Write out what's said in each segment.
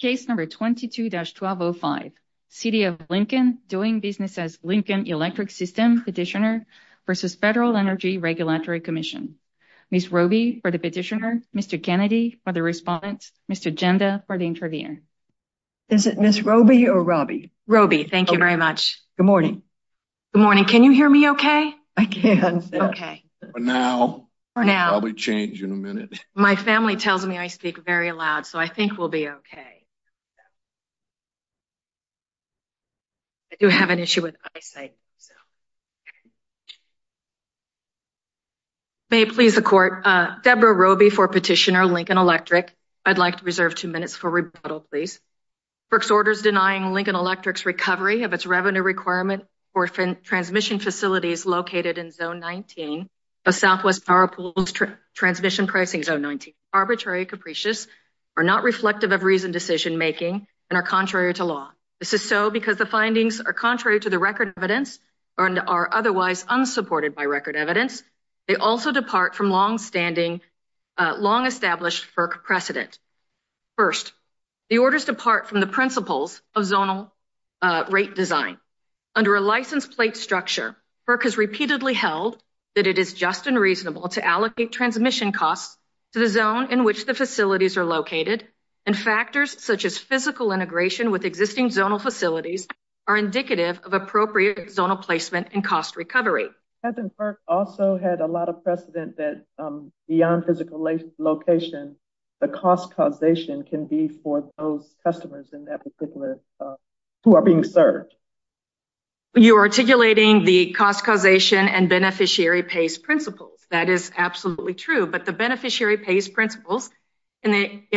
Case number 22-1205. City of Lincoln doing business as Lincoln Electric System Petitioner versus Federal Energy Regulatory Commission. Ms. Roby for the petitioner, Mr. Kennedy for the respondent, Mr. Genda for the intervener. Is it Ms. Roby or Roby? Roby, thank you very much. Good morning. Good morning. Can you hear me okay? I can. Okay. For now. For now. Probably change in a minute. My family tells me I speak very loud, so I think we'll be okay. I do have an issue with eyesight. May it please the court. Deborah Roby for petitioner, Lincoln Electric. I'd like to reserve two minutes for rebuttal, please. FERC's order is denying Lincoln Electric's recovery of its revenue requirement for transmission facilities located in Zone 19 of Southwest Power Pools Transmission Pricing Zone 19. Arbitrary and capricious are not reflective of reasoned decision-making and are contrary to law. This is so because the findings are contrary to the record evidence and are otherwise unsupported by record evidence. They also depart from long-established FERC precedent. First, the orders depart from the principles of zonal rate design. Under a license plate structure, FERC has repeatedly held that it is just and reasonable to allocate transmission costs to the zone in which the facilities are located and factors such as physical integration with existing zonal facilities are indicative of appropriate zonal placement and cost recovery. FERC also had a lot of precedent that beyond physical location, the cost causation can be for those customers in that particular who are being served. You're articulating the cost causation and beneficiary pays principles. That is absolutely true, but the beneficiary pays principles in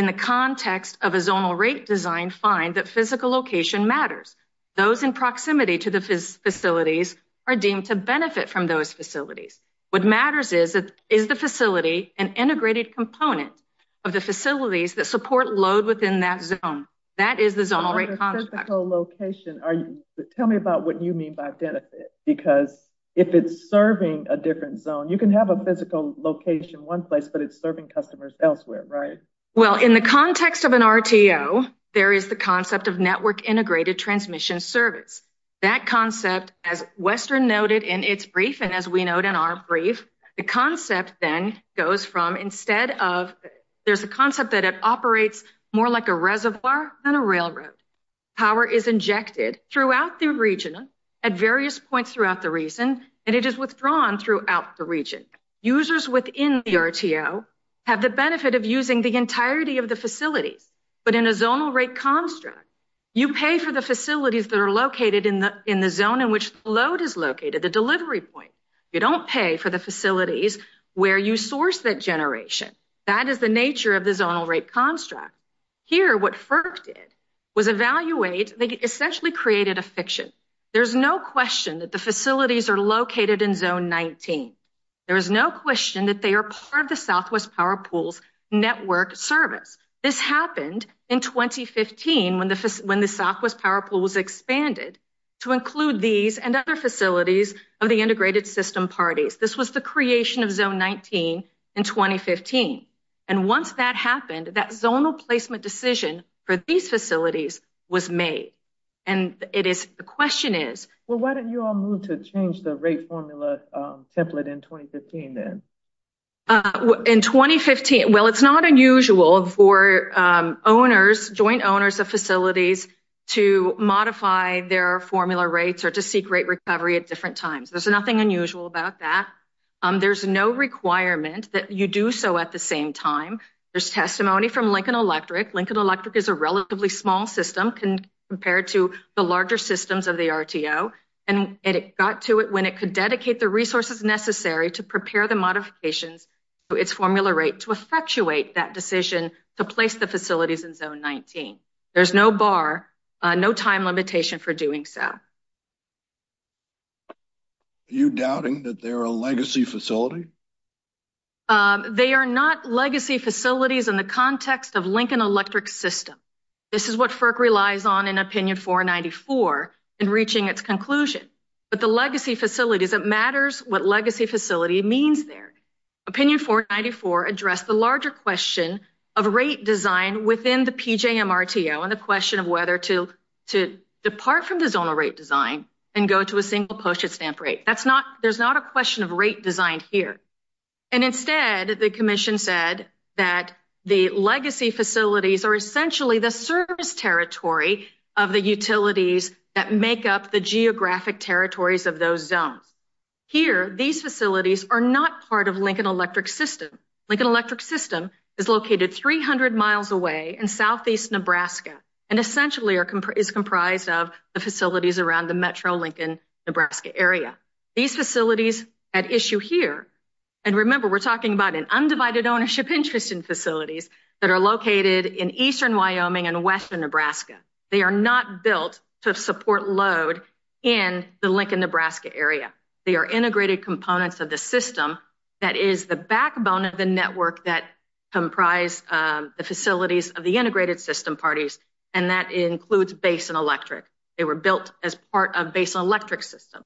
the context of a zonal rate design find that physical location matters. Those in proximity to the facilities are deemed to benefit from those facilities. What matters is, is the facility an integrated component of the facilities that support load within that zone. That is the zonal rate. Tell me about what you mean by benefit, because if it's serving a different zone, you can have a physical location one place, but it's serving customers elsewhere, right? Well, in the context of an RTO, there is the concept of network integrated transmission service. That concept, as Western noted in its brief, and as we note in our brief, the concept then goes from instead of, there's a concept that it operates more like a reservoir than a railroad. Power is injected throughout the region at various points throughout the region, and it is withdrawn throughout the region. Users within the RTO have the benefit of using the entirety of the facilities, but in a zonal rate construct, you pay for the facilities that are located in the zone in which load is located, the delivery point. You don't pay for the facilities where you source that generation. That is the nature of the zonal rate construct. Here, what FERC did was evaluate, they essentially created a fiction. There's no question that the facilities are located in zone 19. There is no question that they are part of the Southwest Power Pool's network service. This happened in 2015 when the Southwest Power Pool was expanded to include these and other facilities of the integrated system parties. This was the creation of zone 19 in 2015, and once that happened, that zonal placement decision for these facilities was made, and the question is... Well, why didn't you all move to change the rate formula template in 2015 then? Well, it's not unusual for joint owners of facilities to modify their formula rates or to seek rate recovery at different times. There's nothing unusual about that. There's no requirement that you do so at the same time. There's testimony from Lincoln Electric. Lincoln Electric is a relatively small system compared to the larger systems of the RTO, and it got to it when it could dedicate the resources necessary to prepare the modifications to its formula rate to effectuate that decision to place the facilities in zone 19. There's no bar, no time limitation for doing so. Are you doubting that they're a legacy facility? They are not legacy facilities in the context of Lincoln Electric's system. This is what FERC is. It matters what legacy facility means there. Opinion 494 addressed the larger question of rate design within the PJMRTO and the question of whether to depart from the zonal rate design and go to a single postage stamp rate. There's not a question of rate design here, and instead, the commission said that the legacy facilities are essentially the service territory of the utilities that make up the geographic territories of those zones. Here, these facilities are not part of Lincoln Electric's system. Lincoln Electric's system is located 300 miles away in southeast Nebraska and essentially is comprised of the facilities around the metro Lincoln, Nebraska area. These facilities at issue here, and remember, we're talking about an undivided ownership interest in facilities that are located in eastern Wyoming and western Nebraska. They are not built to support load in the Lincoln, Nebraska area. They are integrated components of the system that is the backbone of the network that comprise the facilities of the integrated system parties, and that includes Basin Electric. They were built as part of Basin Electric's system.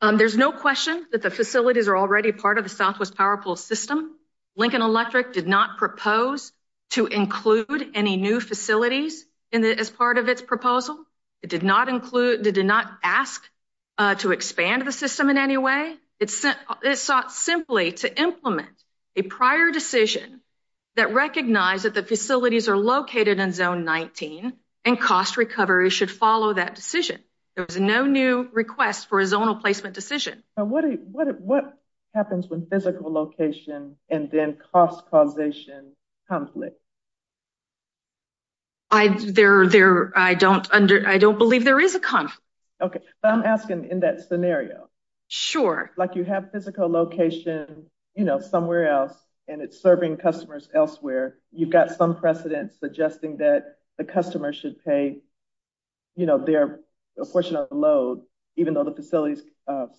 There's no question that the facilities are already part of the southwest power pool system. Lincoln Electric did not propose to include any new facilities as part of its proposal. It did not ask to expand the system in any way. It sought simply to implement a prior decision that recognized that the facilities are located in zone 19 and cost recovery should follow that decision. There was no new request for a zonal physical location and then cost causation conflict. I don't believe there is a conflict. Okay, but I'm asking in that scenario. Sure. Like you have physical location, you know, somewhere else and it's serving customers elsewhere. You've got some precedent suggesting that the customer should pay, you know, their portion of the load even though the facility's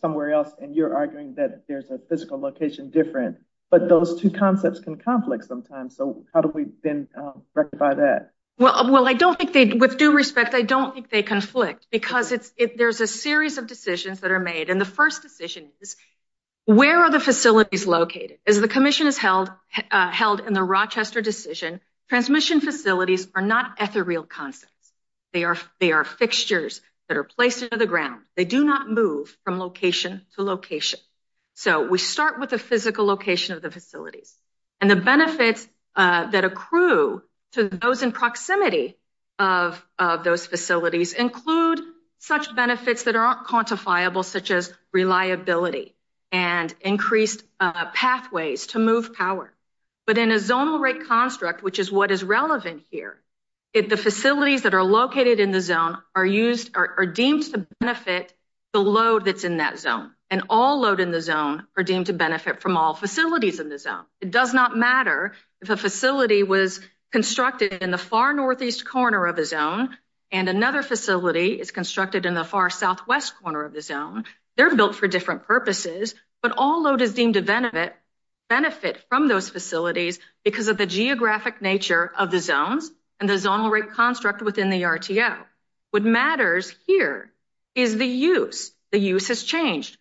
somewhere else and you're arguing that there's a physical location different, but those two concepts can conflict sometimes. So how do we then rectify that? Well, I don't think they, with due respect, I don't think they conflict because there's a series of decisions that are made and the first decision is where are the facilities located? As the commission has held in the Rochester decision, transmission facilities are not ethereal concepts. They are fixtures that are placed into the ground. They do not move from location to location. So we start with the physical location of the facilities and the benefits that accrue to those in proximity of those facilities include such benefits that aren't quantifiable, such as reliability and increased pathways to move power. But in a zonal rate construct, which is what is relevant here, if the facilities that are the load that's in that zone and all load in the zone are deemed to benefit from all facilities in the zone, it does not matter if a facility was constructed in the far northeast corner of the zone and another facility is constructed in the far southwest corner of the zone. They're built for different purposes, but all load is deemed to benefit from those facilities because of the geographic nature of the zones and the zonal rate construct within the RTO. What matters here is the use. The use has changed.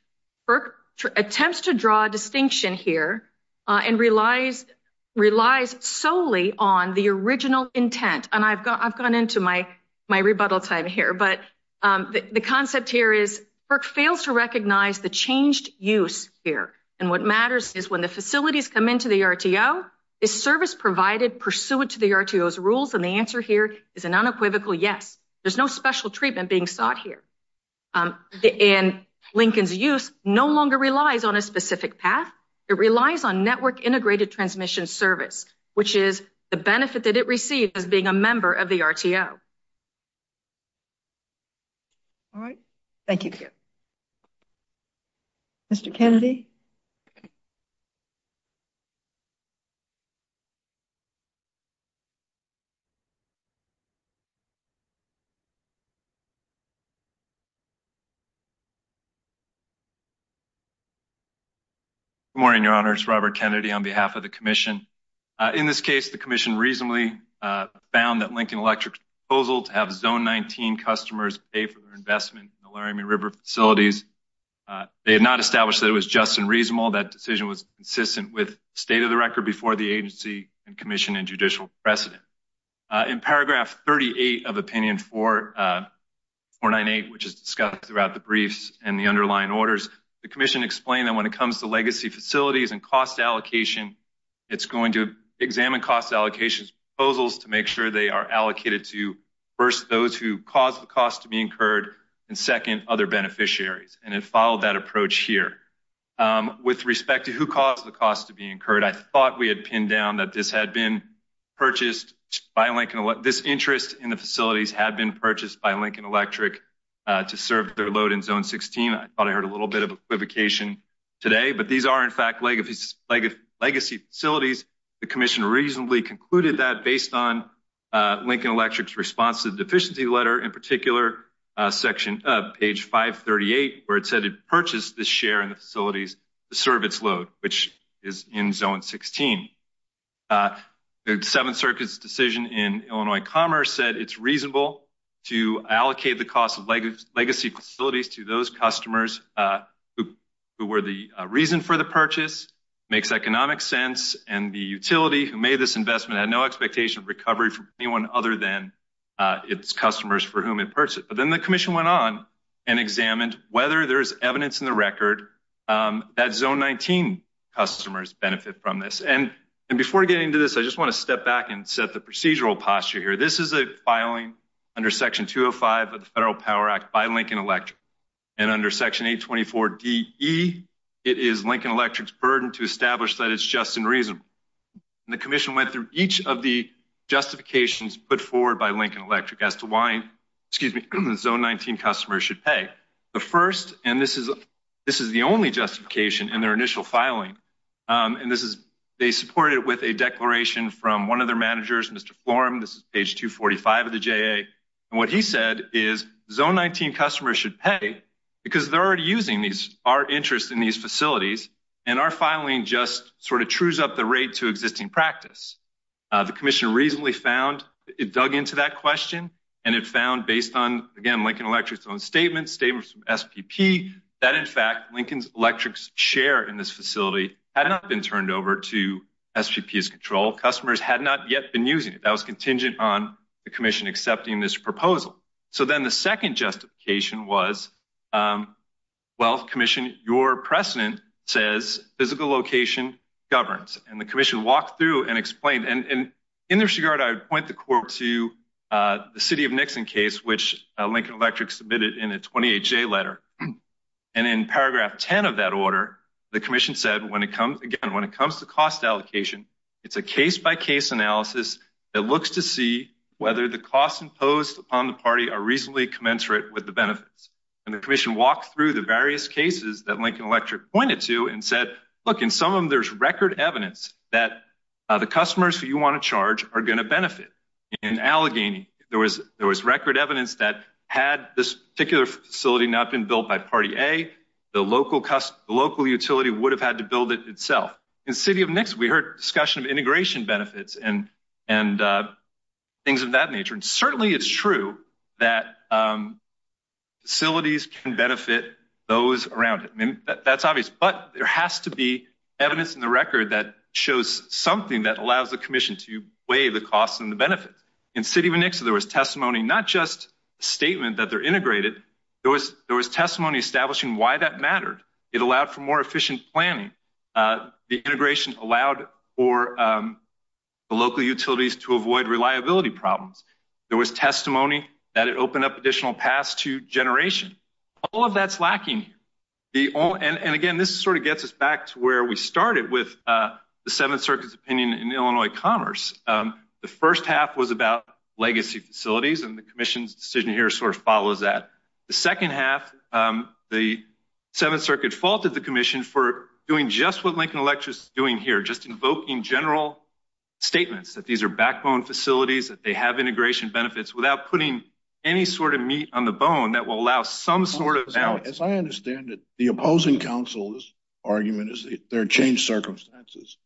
FERC attempts to draw distinction here and relies solely on the original intent. And I've gone into my rebuttal time here, but the concept here is FERC fails to recognize the changed use here. And what matters is when the facilities come into the RTO, is service provided pursuant to the RTO's rules? And the answer here is an unequivocal yes. There's no special treatment being sought here. And Lincoln's use no longer relies on a specific path. It relies on network integrated transmission service, which is the benefit that it received as being a member of the RTO. All right. Thank you. Mr. Kennedy. Good morning, Your Honor. It's Robert Kennedy on behalf of the Commission. In this case, the Commission reasonably found that Lincoln Electric's proposal to have Zone 19 customers pay for their investment in the Laramie River facilities. They have not established that it was just and reasonable. That decision was consistent with state of the record before the 38 of opinion 498, which is discussed throughout the briefs and the underlying orders. The Commission explained that when it comes to legacy facilities and cost allocation, it's going to examine cost allocations proposals to make sure they are allocated to first those who caused the cost to be incurred and second other beneficiaries. And it followed that approach here. With respect to who caused the cost to be incurred, I thought we had pinned down that this had been purchased by Lincoln. This interest in the facilities had been purchased by Lincoln Electric to serve their load in Zone 16. I thought I heard a little bit of equivocation today, but these are, in fact, legacy facilities. The Commission reasonably concluded that based on Lincoln Electric's response to the deficiency letter, in particular, section of page 538, where it said it purchased the share in the facilities to serve its load, which is in Zone 16. The Seventh Circuit's decision in Illinois Commerce said it's reasonable to allocate the cost of legacy facilities to those customers who were the reason for the purchase, makes economic sense, and the utility who made this investment had no expectation of recovery from anyone other than its customers for whom it purchased. But then the Commission went on and examined whether there's evidence in the record that Zone 19 customers benefit from this. And before getting into this, I just want to step back and set the procedural posture here. This is a filing under section 205 of the Federal Power Act by Lincoln Electric. And under section 824DE, it is Lincoln Electric's burden to establish that it's just and reasonable. And the Commission went through each of the justifications put forward by Lincoln Electric as to why, excuse me, the Zone 19 customers should pay. The first, and this is the only justification in their initial filing, and this is, they support it with a declaration from one of their managers, Mr. Florum, this is page 245 of the JA. And what he said is Zone 19 customers should pay because they're already using our interest in these facilities, and our filing just sort of trues up the rate to existing practice. The Commission reasonably found, it dug into that question, and it found based on, again, Lincoln Electric's own statements from SPP that, in fact, Lincoln Electric's share in this facility had not been turned over to SPP's control. Customers had not yet been using it. That was contingent on the Commission accepting this proposal. So then the second justification was, well, Commission, your precedent says physical location governs. And the Commission walked through and explained. And in this regard, I would point the court to the City of Nixon case, which Lincoln Electric submitted in a 28-J letter. And in paragraph 10 of that order, the Commission said, again, when it comes to cost allocation, it's a case-by-case analysis that looks to see whether the costs imposed upon the party are reasonably commensurate with the benefits. And the Commission walked through the various cases that Lincoln Electric pointed to and said, look, in some of them there's record evidence that the customers who you want to this particular facility not been built by party A, the local utility would have had to build it itself. In City of Nixon, we heard discussion of integration benefits and things of that nature. And certainly it's true that facilities can benefit those around it. I mean, that's obvious. But there has to be evidence in the record that shows something that allows the Commission to the costs and the benefits. In City of Nixon, there was testimony, not just a statement that they're integrated. There was testimony establishing why that mattered. It allowed for more efficient planning. The integration allowed for the local utilities to avoid reliability problems. There was testimony that it opened up additional paths to generation. All of that's lacking. And again, this sort of gets us back to where we started with the Seventh Circuit's opinion in Illinois Commerce. The first half was about legacy facilities and the Commission's decision here sort of follows that. The second half, the Seventh Circuit faulted the Commission for doing just what Lincoln Electric is doing here, just invoking general statements that these are backbone facilities, that they have integration benefits without putting any sort of meat on the bone that will allow some sort of balance. I understand that the opposing counsel's argument is that there are changed circumstances.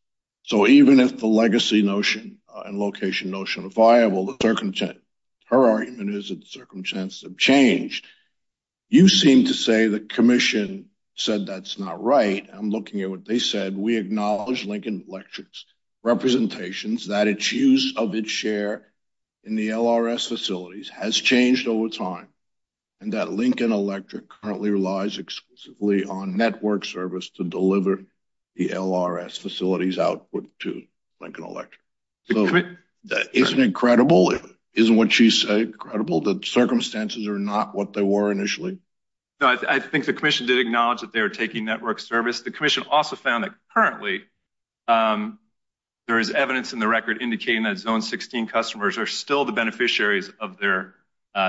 So even if the legacy notion and location notion are viable, her argument is that the circumstances have changed. You seem to say the Commission said that's not right. I'm looking at what they said. We acknowledge Lincoln Electric's representations that its use of its share in the LRS facilities has changed over time, and that Lincoln Electric currently relies exclusively on network service to deliver the LRS facilities output to Lincoln Electric. Isn't it credible? Isn't what she said credible, that circumstances are not what they were initially? No, I think the Commission did acknowledge that they were taking network service. The Commission also found that currently there is evidence in the record indicating that Zone 16 customers are still the beneficiaries of their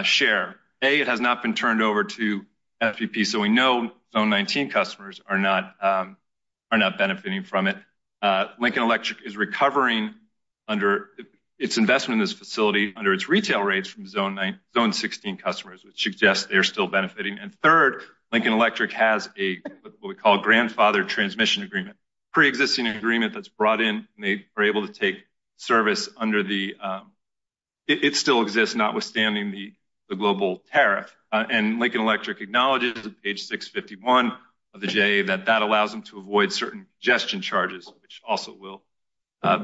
share. A, it has not been turned over to FEP, so we know Zone 19 customers are not benefiting from it. Lincoln Electric is recovering under its investment in this facility under its retail rates from Zone 16 customers, which suggests they are still benefiting. And third, Lincoln Electric has what we call a grandfather transmission agreement, pre-existing agreement that's brought in, and they are able to take service under the, it still exists notwithstanding the global tariff. And Lincoln Electric acknowledges on page 651 of the JA that that allows them to avoid certain congestion charges, which also will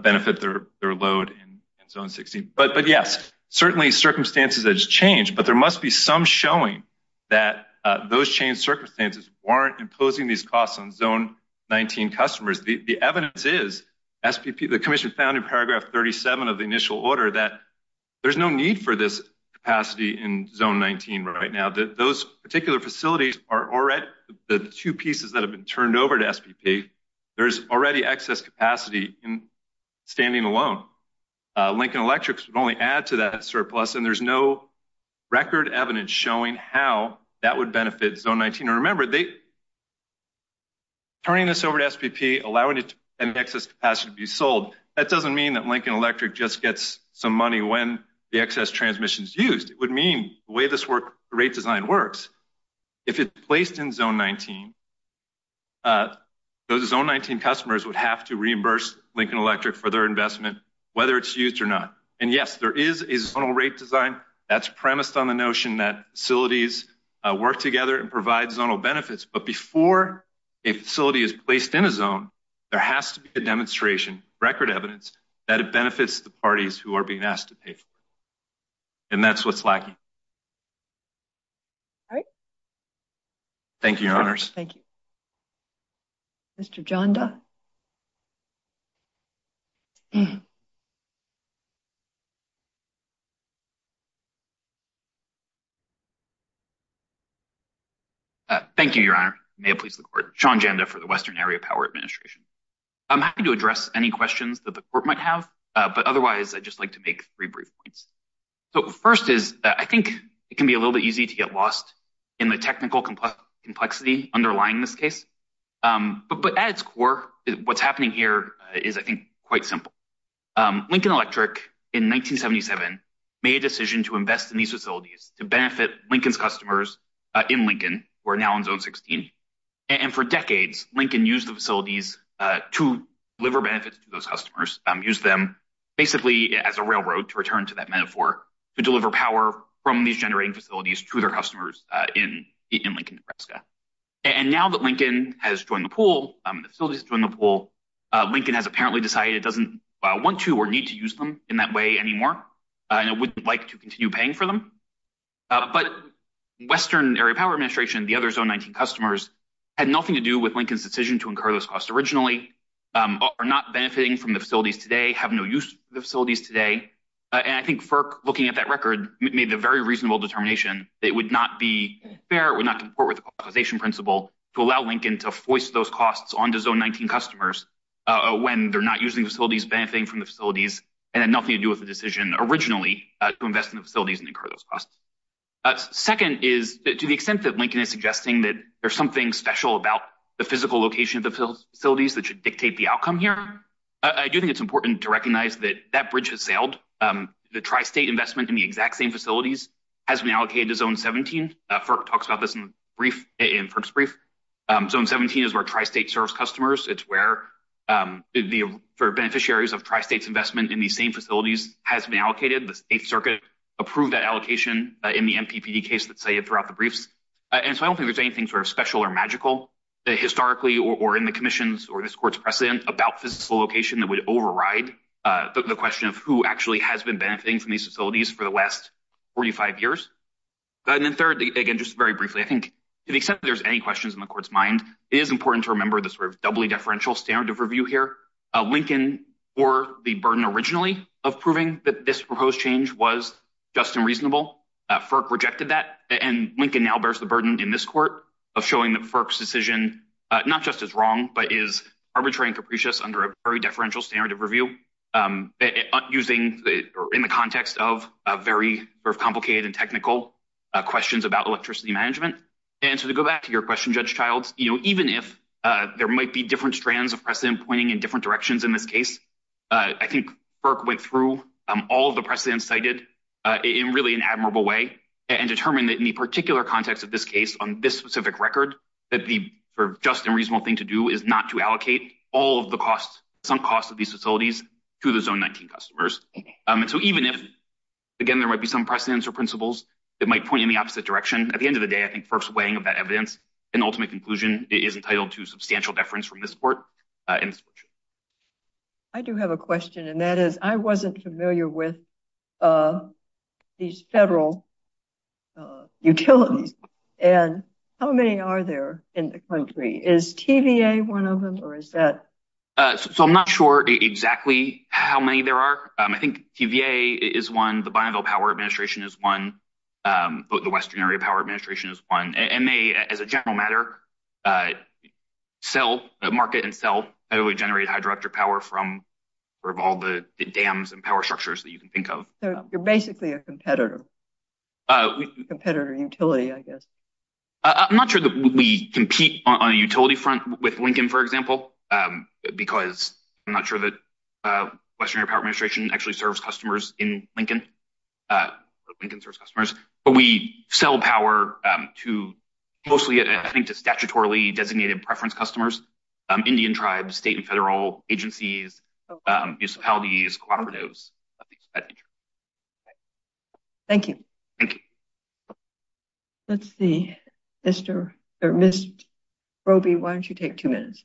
benefit their load in Zone 16. But yes, certainly circumstances have changed, but there must be some showing that those changed circumstances weren't imposing these costs on Zone 19 customers. The evidence is SPP, the Commission found in paragraph 37 of the initial order that there's no need for this capacity in Zone 19 right now. Those particular facilities are already the two pieces that have been turned over to SPP. There's already excess capacity in standing alone. Lincoln Electric would only add to that surplus, and there's no turning this over to SPP, allowing an excess capacity to be sold. That doesn't mean that Lincoln Electric just gets some money when the excess transmission is used. It would mean the way this rate design works. If it's placed in Zone 19, those Zone 19 customers would have to reimburse Lincoln Electric for their investment, whether it's used or not. And yes, there is a zonal rate design that's premised on the notion that facilities work together and provide zonal benefits, but before a facility is placed in a zone, there has to be a demonstration, record evidence, that it benefits the parties who are being asked to pay for it. And that's what's lacking. All right. Thank you, Your Honors. Thank you. Mr. Janda? Thank you, Your Honor. May it please the Court. Sean Janda for the Western Area Power Administration. I'm happy to address any questions that the Court might have, but otherwise, I'd just like to make three brief points. So first is, I think it can be a little bit easy to get lost in the technical complexity underlying this case. But at its core, what's happening here is, I think, quite simple. Lincoln Electric, in 1977, made a decision to invest in these facilities to benefit Lincoln's customers in Lincoln, who are now in Zone 16. And for decades, Lincoln used the facilities to deliver benefits to those customers, used them basically as a railroad, to return to that Nebraska. And now that Lincoln has joined the pool, the facilities have joined the pool, Lincoln has apparently decided it doesn't want to or need to use them in that way anymore, and it wouldn't like to continue paying for them. But Western Area Power Administration, the other Zone 19 customers, had nothing to do with Lincoln's decision to incur those costs originally, are not benefiting from the facilities today, have no use for the facilities today. And I think FERC, looking at that record, made the very reasonable determination that it would not be fair, it would not comport with the authorization principle to allow Lincoln to foist those costs onto Zone 19 customers when they're not using facilities, benefiting from the facilities, and had nothing to do with the decision originally to invest in the facilities and incur those costs. Second is, to the extent that Lincoln is suggesting that there's something special about the physical location of the facilities that should dictate the outcome here, I do think it's important to recognize that that bridge has sailed. The tri-state investment in exact same facilities has been allocated to Zone 17. FERC talks about this in FERC's brief. Zone 17 is where tri-state serves customers. It's where the beneficiaries of tri-state's investment in these same facilities has been allocated. The State Circuit approved that allocation in the MPPD case that's cited throughout the briefs. And so I don't think there's anything sort of special or magical, historically or in the Commission's or this Court's precedent, about physical location that would override the question of who actually has been benefiting from these facilities for the last 45 years. And then third, again, just very briefly, I think to the extent that there's any questions in the Court's mind, it is important to remember the sort of doubly deferential standard of review here. Lincoln bore the burden originally of proving that this proposed change was just and reasonable. FERC rejected that. And Lincoln now bears the burden in this Court of showing that FERC's decision not just is wrong, but is arbitrary and capricious under a very sort of complicated and technical questions about electricity management. And so to go back to your question, Judge Childs, you know, even if there might be different strands of precedent pointing in different directions in this case, I think FERC went through all of the precedents cited in really an admirable way and determined that in the particular context of this case, on this specific record, that the sort of just and reasonable thing to do is not to allocate all of the costs, some costs of these facilities to the Zone 19 customers. And so even if, again, there might be some precedents or principles that might point in the opposite direction, at the end of the day, I think FERC's weighing of that evidence and ultimate conclusion is entitled to substantial deference from this Court. I do have a question, and that is, I wasn't familiar with these federal utilities. And how many are there in the country? Is TVA one of them, or is that? So I'm not sure exactly how many there are. I think TVA is one. The Bonneville Power Administration is one. The Western Area Power Administration is one. And they, as a general matter, sell – market and sell – generate hydroelectric power from all the dams and power structures that you can think of. So you're basically a competitor. Competitor utility, I guess. I'm not sure that we compete on a utility front with Lincoln, for example, because I'm not sure that the Western Area Power Administration actually serves customers in Lincoln. Lincoln serves customers. But we sell power to – mostly, I think, to statutorily designated preference customers, Indian tribes, state and federal agencies, municipalities, cooperatives. Thank you. Thank you. Let's see. Mr. – or Ms. Broby, why don't you take two minutes?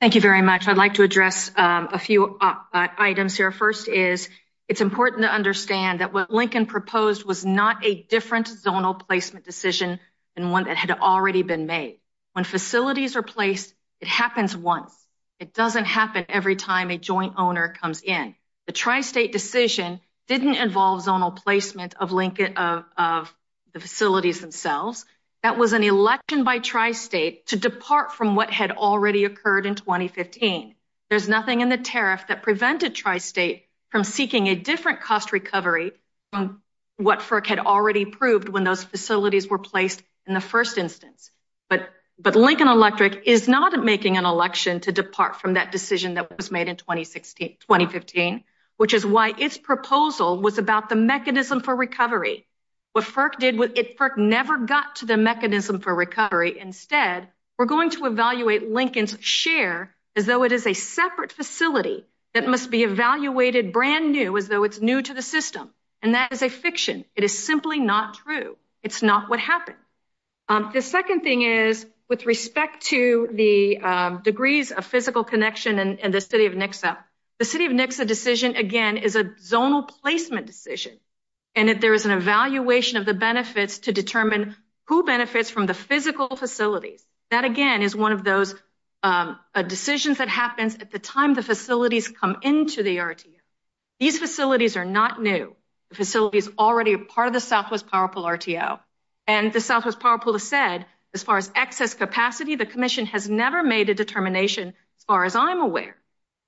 Thank you very much. I'd like to address a few items here. First is, it's important to understand that what Lincoln proposed was not a different zonal placement decision than one had already been made. When facilities are placed, it happens once. It doesn't happen every time a joint owner comes in. The tri-state decision didn't involve zonal placement of the facilities themselves. That was an election by tri-state to depart from what had already occurred in 2015. There's nothing in the tariff that prevented tri-state from seeking a different cost recovery from what FERC had already proved when those facilities were placed in the first instance. But Lincoln Electric is not making an election to depart from that decision that was made in 2015, which is why its proposal was about the mechanism for recovery. What FERC did – FERC never got to the mechanism for recovery. Instead, we're going to evaluate Lincoln's share as though it is a separate facility that must be evaluated brand new, as though it's new to the system. And that is a fiction. It is simply not true. It's not what happened. The second thing is, with respect to the degrees of physical connection and the City of Nixa, the City of Nixa decision, again, is a zonal placement decision, and that there is an evaluation of the benefits to determine who benefits from the physical facilities. That, again, is one of those decisions that happens at the time the facilities come into the RTA. These facilities are not new. The facility is already part of the Southwest Power Pool RTO. And the Southwest Power Pool has said, as far as excess capacity, the Commission has never made a determination, as far as I'm aware,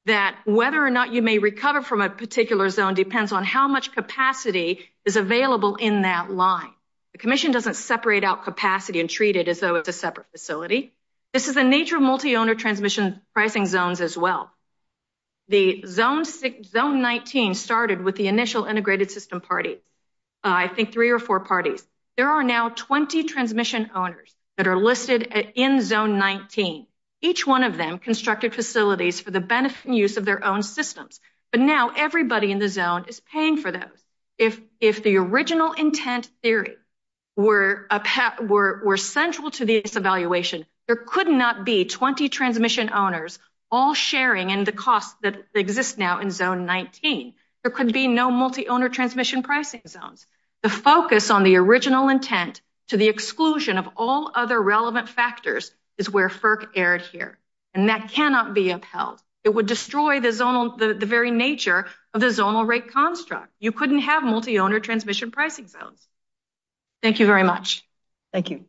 that whether or not you may recover from a particular zone depends on how much capacity is available in that line. The Commission doesn't separate out capacity and treat it as though it's a separate facility. This is the nature of multi-owner transmission pricing zones as well. The Zone 19 started with the initial integrated system parties, I think three or four parties. There are now 20 transmission owners that are listed in Zone 19. Each one of them constructed facilities for the benefit and use of their own systems. But now everybody in the zone is paying for those. If the original intent theory were central to this evaluation, there could not be 20 transmission owners all sharing in the costs that exist now in Zone 19. There could be no multi-owner transmission pricing zones. The focus on the original intent to the exclusion of all other relevant factors is where FERC erred here. And that cannot be upheld. It would destroy the very nature of the zonal rate construct. You couldn't have multi-owner transmission pricing zones. Thank you very much. Thank you.